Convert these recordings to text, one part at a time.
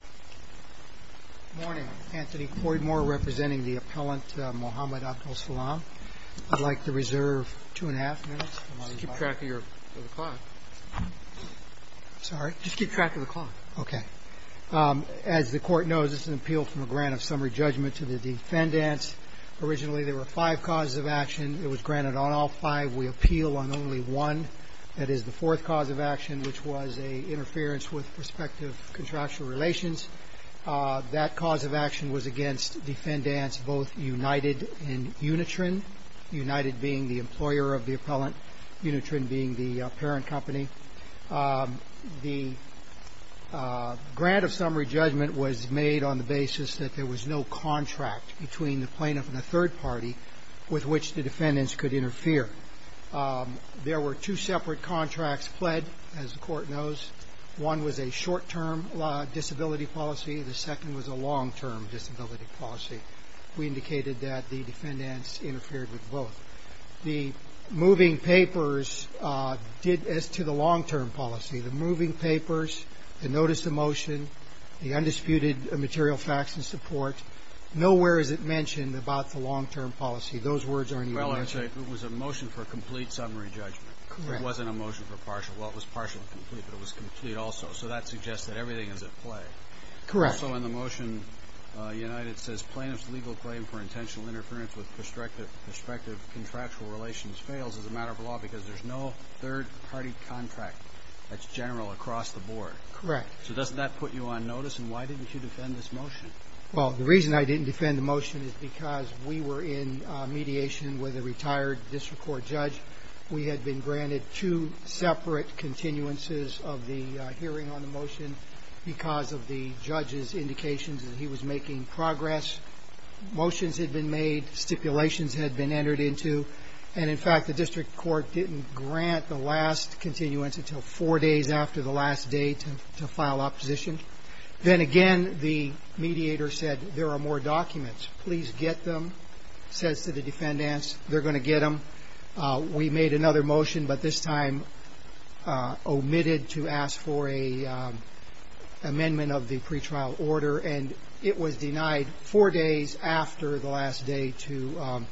Good morning. Anthony Coidmore representing the appellant Mohamed Abdelsalam. I'd like to reserve two and a half minutes. Just keep track of the clock. Sorry? Just keep track of the clock. Okay. As the Court knows, this is an appeal from a grant of summary judgment to the defendants. Originally there were five causes of action. It was granted on all five. We appeal on only one, that is the fourth cause of action, which was an interference with prospective contractual relations. That cause of action was against defendants both United and Unitran, United being the employer of the appellant, Unitran being the parent company. The grant of summary judgment was made on the basis that there was no contract between the plaintiff and the third party with which the defendants could interfere. There were two separate contracts pled, as the Court knows. One was a short-term disability policy. The second was a long-term disability policy. We indicated that the defendants interfered with both. The moving papers did as to the long-term policy. The moving papers, the notice of motion, the undisputed material facts and support, nowhere is it mentioned about the long-term policy. Those words aren't even mentioned. It was a motion for a complete summary judgment. Correct. It wasn't a motion for partial. Well, it was partial and complete, but it was complete also. So that suggests that everything is at play. Correct. Also in the motion, United says plaintiff's legal claim for intentional interference with prospective contractual relations fails as a matter of law because there's no third-party contract that's general across the board. Correct. So doesn't that put you on notice? And why didn't you defend this motion? Well, the reason I didn't defend the motion is because we were in mediation with a retired district court judge. We had been granted two separate continuances of the hearing on the motion because of the judge's indications that he was making progress. Motions had been made. Stipulations had been entered into. And, in fact, the district court didn't grant the last continuance until four days after the last day to file opposition. Then again, the mediator said there are more documents. Please get them, says to the defendants. They're going to get them. We made another motion, but this time omitted to ask for an amendment of the pretrial order. And it was denied four days after the last day to...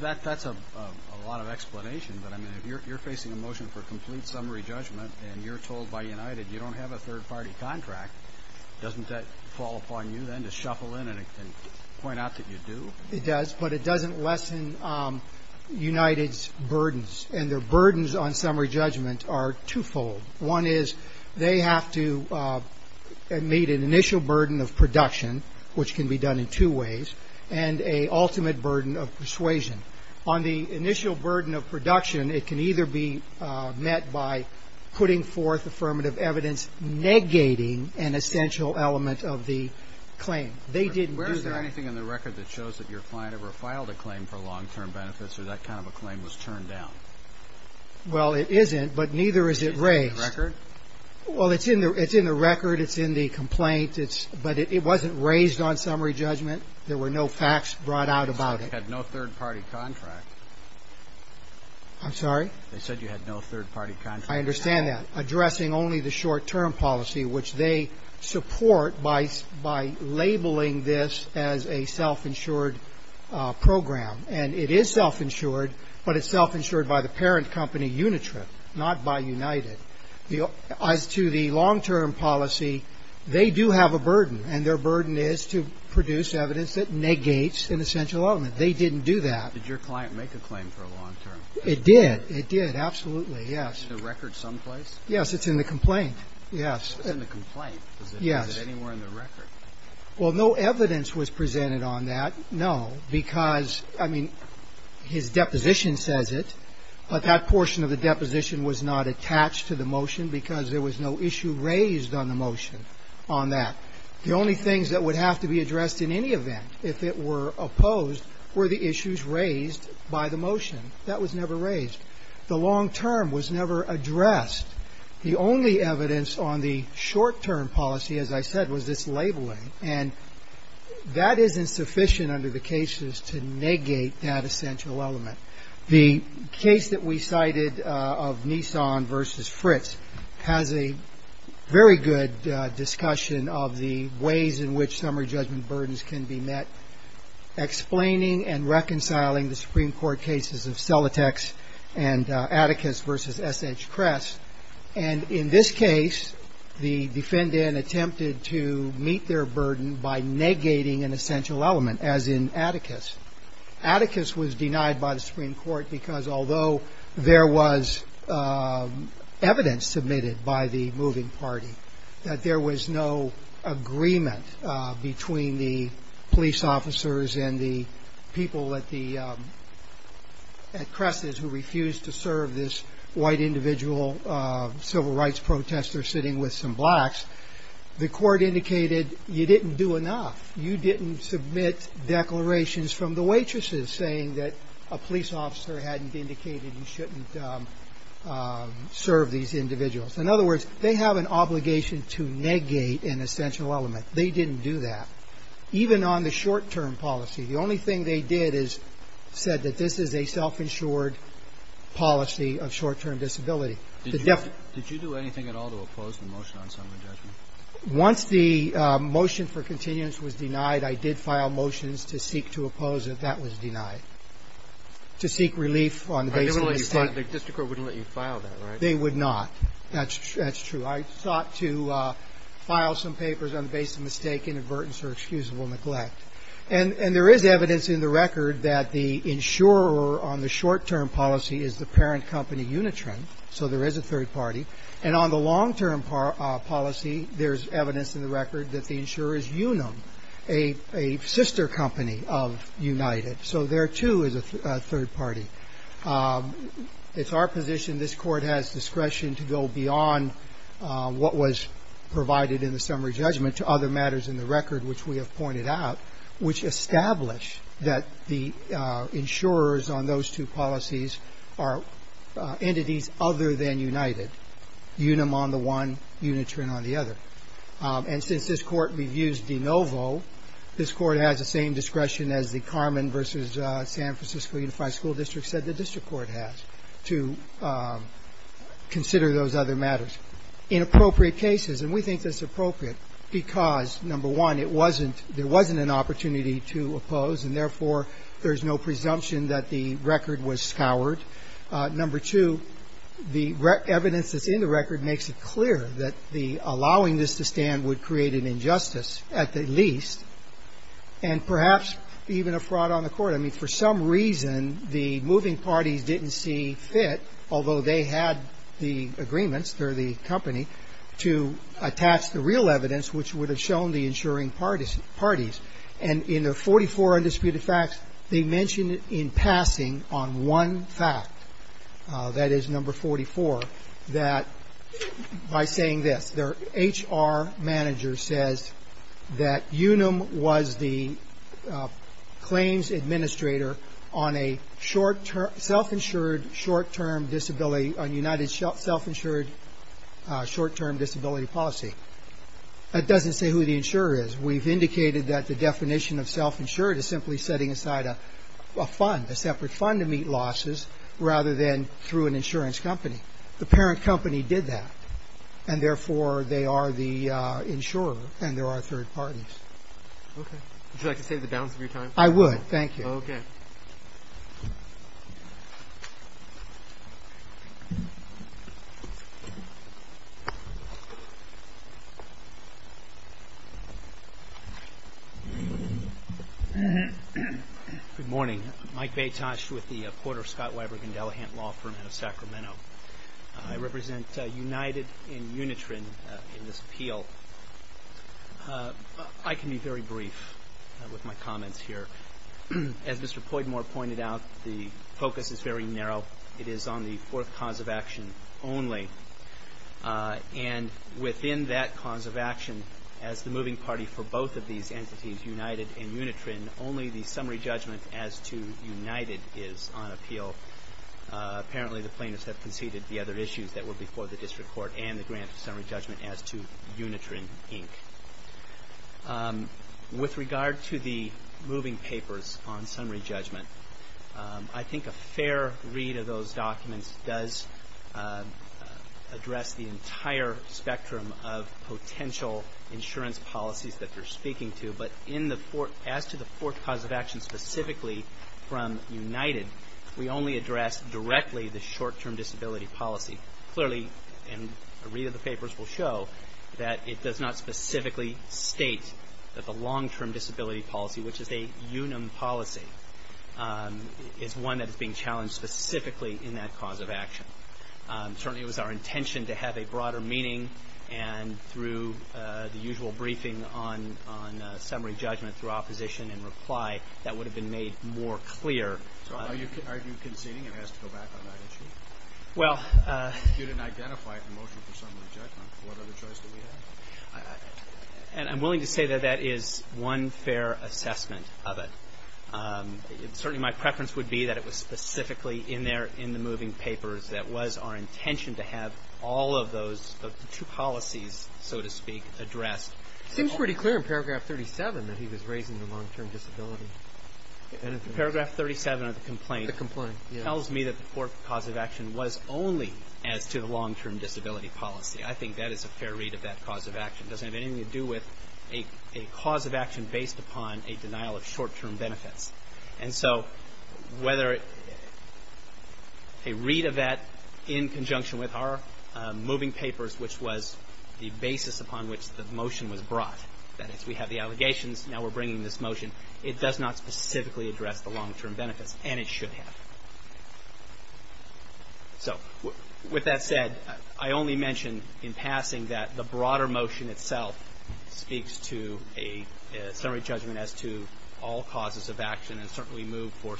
That's a lot of explanation. But, I mean, if you're facing a motion for complete summary judgment and you're told by United you don't have a third-party contract, doesn't that fall upon you then to shuffle in and point out that you do? It does, but it doesn't lessen United's burdens. And their burdens on summary judgment are twofold. One is they have to meet an initial burden of production, which can be done in two ways, and a ultimate burden of persuasion. On the initial burden of production, it can either be met by putting forth affirmative evidence negating an essential element of the claim. They didn't do that. Is there anything in the record that shows that your client ever filed a claim for long-term benefits or that kind of a claim was turned down? Well, it isn't, but neither is it raised. Is it in the record? Well, it's in the record. It's in the complaint. But it wasn't raised on summary judgment. There were no facts brought out about it. So it had no third-party contract. I'm sorry? They said you had no third-party contract. I understand that. Addressing only the short-term policy, which they support by labeling this as a self-insured program. And it is self-insured, but it's self-insured by the parent company Unitrip, not by United. As to the long-term policy, they do have a burden, and their burden is to produce evidence that negates an essential element. They didn't do that. Did your client make a claim for a long-term? It did. It did, absolutely. Yes. Is it in the record someplace? Yes, it's in the complaint. Yes. It's in the complaint. Yes. Is it anywhere in the record? Well, no evidence was presented on that, no, because, I mean, his deposition says it, but that portion of the deposition was not attached to the motion because there was no issue raised on the motion on that. The only things that would have to be addressed in any event, if it were opposed, were the issues raised by the motion. That was never raised. The long-term was never addressed. The only evidence on the short-term policy, as I said, was this labeling. And that is insufficient under the cases to negate that essential element. The case that we cited of Nissan versus Fritz has a very good discussion of the ways in which summary judgment burdens can be met, explaining and reconciling the Supreme Court cases of Selatex and Atticus versus S.H. Kress. And in this case, the defendant attempted to meet their burden by negating an essential element, as in Atticus. Atticus was denied by the Supreme Court because, although there was evidence submitted by the moving party that there was no agreement between the police officers and the people at Kress's who refused to serve this white individual civil rights protester sitting with some blacks, the court indicated you didn't do enough. You didn't submit declarations from the waitresses saying that a police officer hadn't indicated you shouldn't serve these individuals. In other words, they have an obligation to negate an essential element. They didn't do that. Even on the short-term policy, the only thing they did is said that this is a self-insured policy of short-term disability. Did you do anything at all to oppose the motion on summary judgment? Once the motion for continuance was denied, I did file motions to seek to oppose it. That was denied. To seek relief on the basis of mistake. The district court wouldn't let you file that, right? They would not. That's true. I sought to file some papers on the basis of mistake, inadvertence, or excusable neglect. And there is evidence in the record that the insurer on the short-term policy is the parent company Unitron, so there is a third party. And on the long-term policy, there is evidence in the record that the insurer is Unum, a sister company of United. So there, too, is a third party. It's our position this Court has discretion to go beyond what was provided in the summary judgment to other matters in the record, which we have pointed out, which establish that the insurers on those two policies are entities other than United. Unum on the one, Unitron on the other. And since this Court reviews de novo, this Court has the same discretion as the Carmen v. San Francisco Unified School District said the district court has to consider those other matters. In appropriate cases, and we think that's appropriate because, number one, it wasn't – there wasn't an opportunity to oppose, and therefore, there's no presumption that the record was scoured. Number two, the evidence that's in the record makes it clear that the allowing this to stand would create an injustice, at the least, and perhaps even a fraud on the Court. I mean, for some reason, the moving parties didn't see fit, although they had the agreements, they're the company, to attach the real evidence, which would have shown the insuring parties. And in their 44 undisputed facts, they mention in passing on one fact, that is number 44, that by saying this, their HR manager says that Unum was the claims administrator on a self-insured, short-term disability – on United's self-insured short-term disability policy. That doesn't say who the insurer is. We've indicated that the definition of self-insured is simply setting aside a fund, a separate fund to meet losses, rather than through an insurance company. The parent company did that, and therefore, they are the insurer and there are third parties. Okay. Would you like to save the balance of your time? I would. Thank you. Okay. Good morning. Mike Betosch with the Porter, Scott, Weiber, Gundelhan Law Firm out of Sacramento. I represent United and Unitran in this appeal. I can be very brief with my comments here. As Mr. Poidmore pointed out, the focus is very narrow. It is on the fourth cause of action only. And within that cause of action, as the moving party for both of these entities, United and Unitran, only the summary judgment as to United is on appeal. Apparently, the plaintiffs have conceded the other issues that were before the district court and the grant of summary judgment as to Unitran, Inc. With regard to the moving papers on summary judgment, I think a fair read of those documents does address the entire spectrum of potential insurance policies that you're speaking to. But as to the fourth cause of action specifically from United, we only address directly the short-term disability policy. Clearly, and a read of the papers will show, that it does not specifically state that the long-term disability policy, which is a UNAM policy, is one that is being challenged specifically in that cause of action. Certainly, it was our intention to have a broader meeting, and through the usual briefing on summary judgment through opposition and reply, that would have been made more clear. So are you conceding it has to go back on that issue? Well. If you didn't identify it in the motion for summary judgment, what other choice do we have? And I'm willing to say that that is one fair assessment of it. Certainly, my preference would be that it was specifically in there in the moving papers that was our intention to have all of those, the two policies, so to speak, addressed. It seems pretty clear in paragraph 37 that he was raising the long-term disability. Paragraph 37 of the complaint tells me that the core cause of action was only as to the long-term disability policy. I think that is a fair read of that cause of action. It doesn't have anything to do with a cause of action based upon a denial of short-term benefits. And so whether a read of that in conjunction with our moving papers, which was the basis upon which the motion was brought, that is, we have the allegations, now we're bringing this motion, it does not specifically address the long-term benefits, and it should have. So with that said, I only mention in passing that the broader motion itself speaks to a summary judgment as to all causes of action and certainly moved for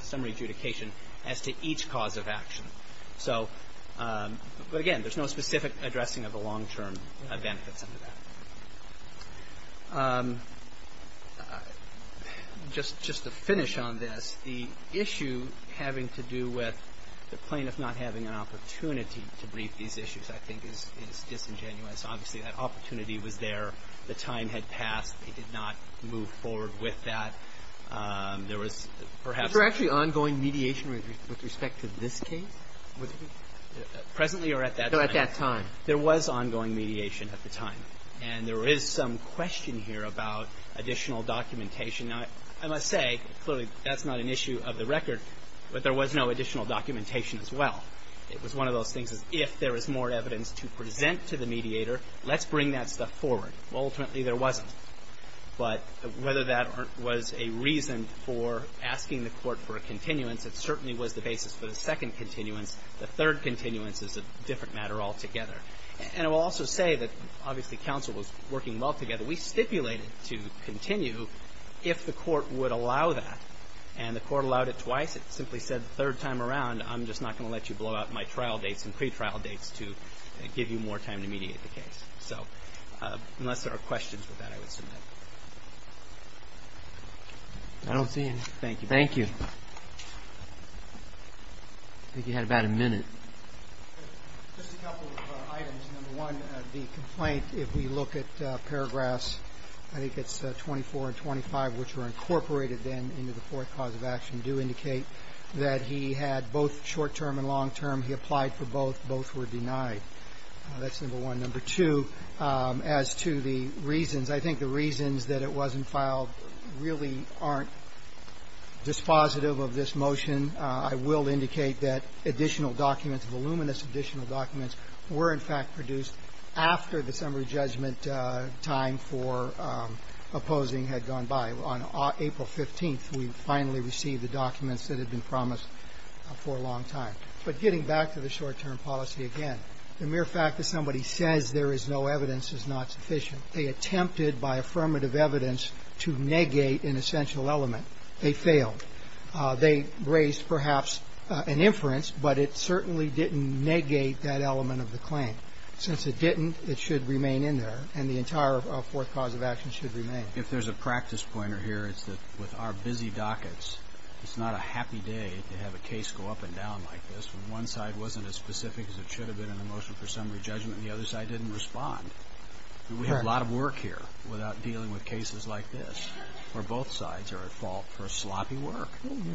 summary adjudication as to each cause of action. So, but again, there's no specific addressing of the long-term benefits under that. Just to finish on this, the issue having to do with the plaintiff not having an opportunity to brief these issues, I think, is disingenuous. Obviously, that opportunity was there. The time had passed. They did not move forward with that. There was perhaps an ongoing mediation with respect to this case. Presently or at that time? No, at that time. There was ongoing mediation at the time. And there is some question here about additional documentation. Now, I must say, clearly, that's not an issue of the record. But there was no additional documentation as well. It was one of those things as if there was more evidence to present to the mediator, let's bring that stuff forward. Well, ultimately, there wasn't. But whether that was a reason for asking the Court for a continuance, it certainly was the basis for the second continuance. The third continuance is a different matter altogether. And I will also say that, obviously, counsel was working well together. We stipulated to continue if the Court would allow that. And the Court allowed it twice. It simply said the third time around, I'm just not going to let you blow out my trial dates and pretrial dates to give you more time to mediate the case. So unless there are questions with that, I would submit. I don't see any. Thank you. Thank you. I think you had about a minute. Just a couple of items. Number one, the complaint, if we look at paragraphs, I think it's 24 and 25, which were incorporated then into the fourth cause of action, do indicate that he had both short-term and long-term. He applied for both. Both were denied. That's number one. Number two, as to the reasons, I think the reasons that it wasn't filed really aren't dispositive of this motion. I will indicate that additional documents, voluminous additional documents were, in fact, produced after the summary judgment time for opposing had gone by. On April 15th, we finally received the documents that had been promised for a long time. But getting back to the short-term policy again, the mere fact that somebody says there is no evidence is not sufficient. They attempted by affirmative evidence to negate an essential element. They failed. They raised perhaps an inference, but it certainly didn't negate that element of the claim. Since it didn't, it should remain in there, and the entire fourth cause of action should remain. If there's a practice pointer here, it's that with our busy dockets, it's not a happy day to have a case go up and down like this, when one side wasn't as specific as it should have been in the motion for summary judgment, and the other side didn't respond. We have a lot of work here without dealing with cases like this, where both sides are at fault for sloppy work.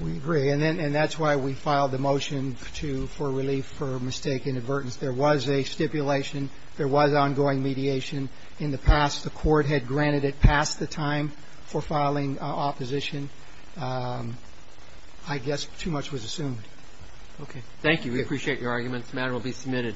We agree. And that's why we filed the motion for relief for mistake in advertence. There was a stipulation. There was ongoing mediation in the past. The court had granted it past the time for filing opposition. I guess too much was assumed. Okay. Thank you. We appreciate your arguments. The matter will be submitted.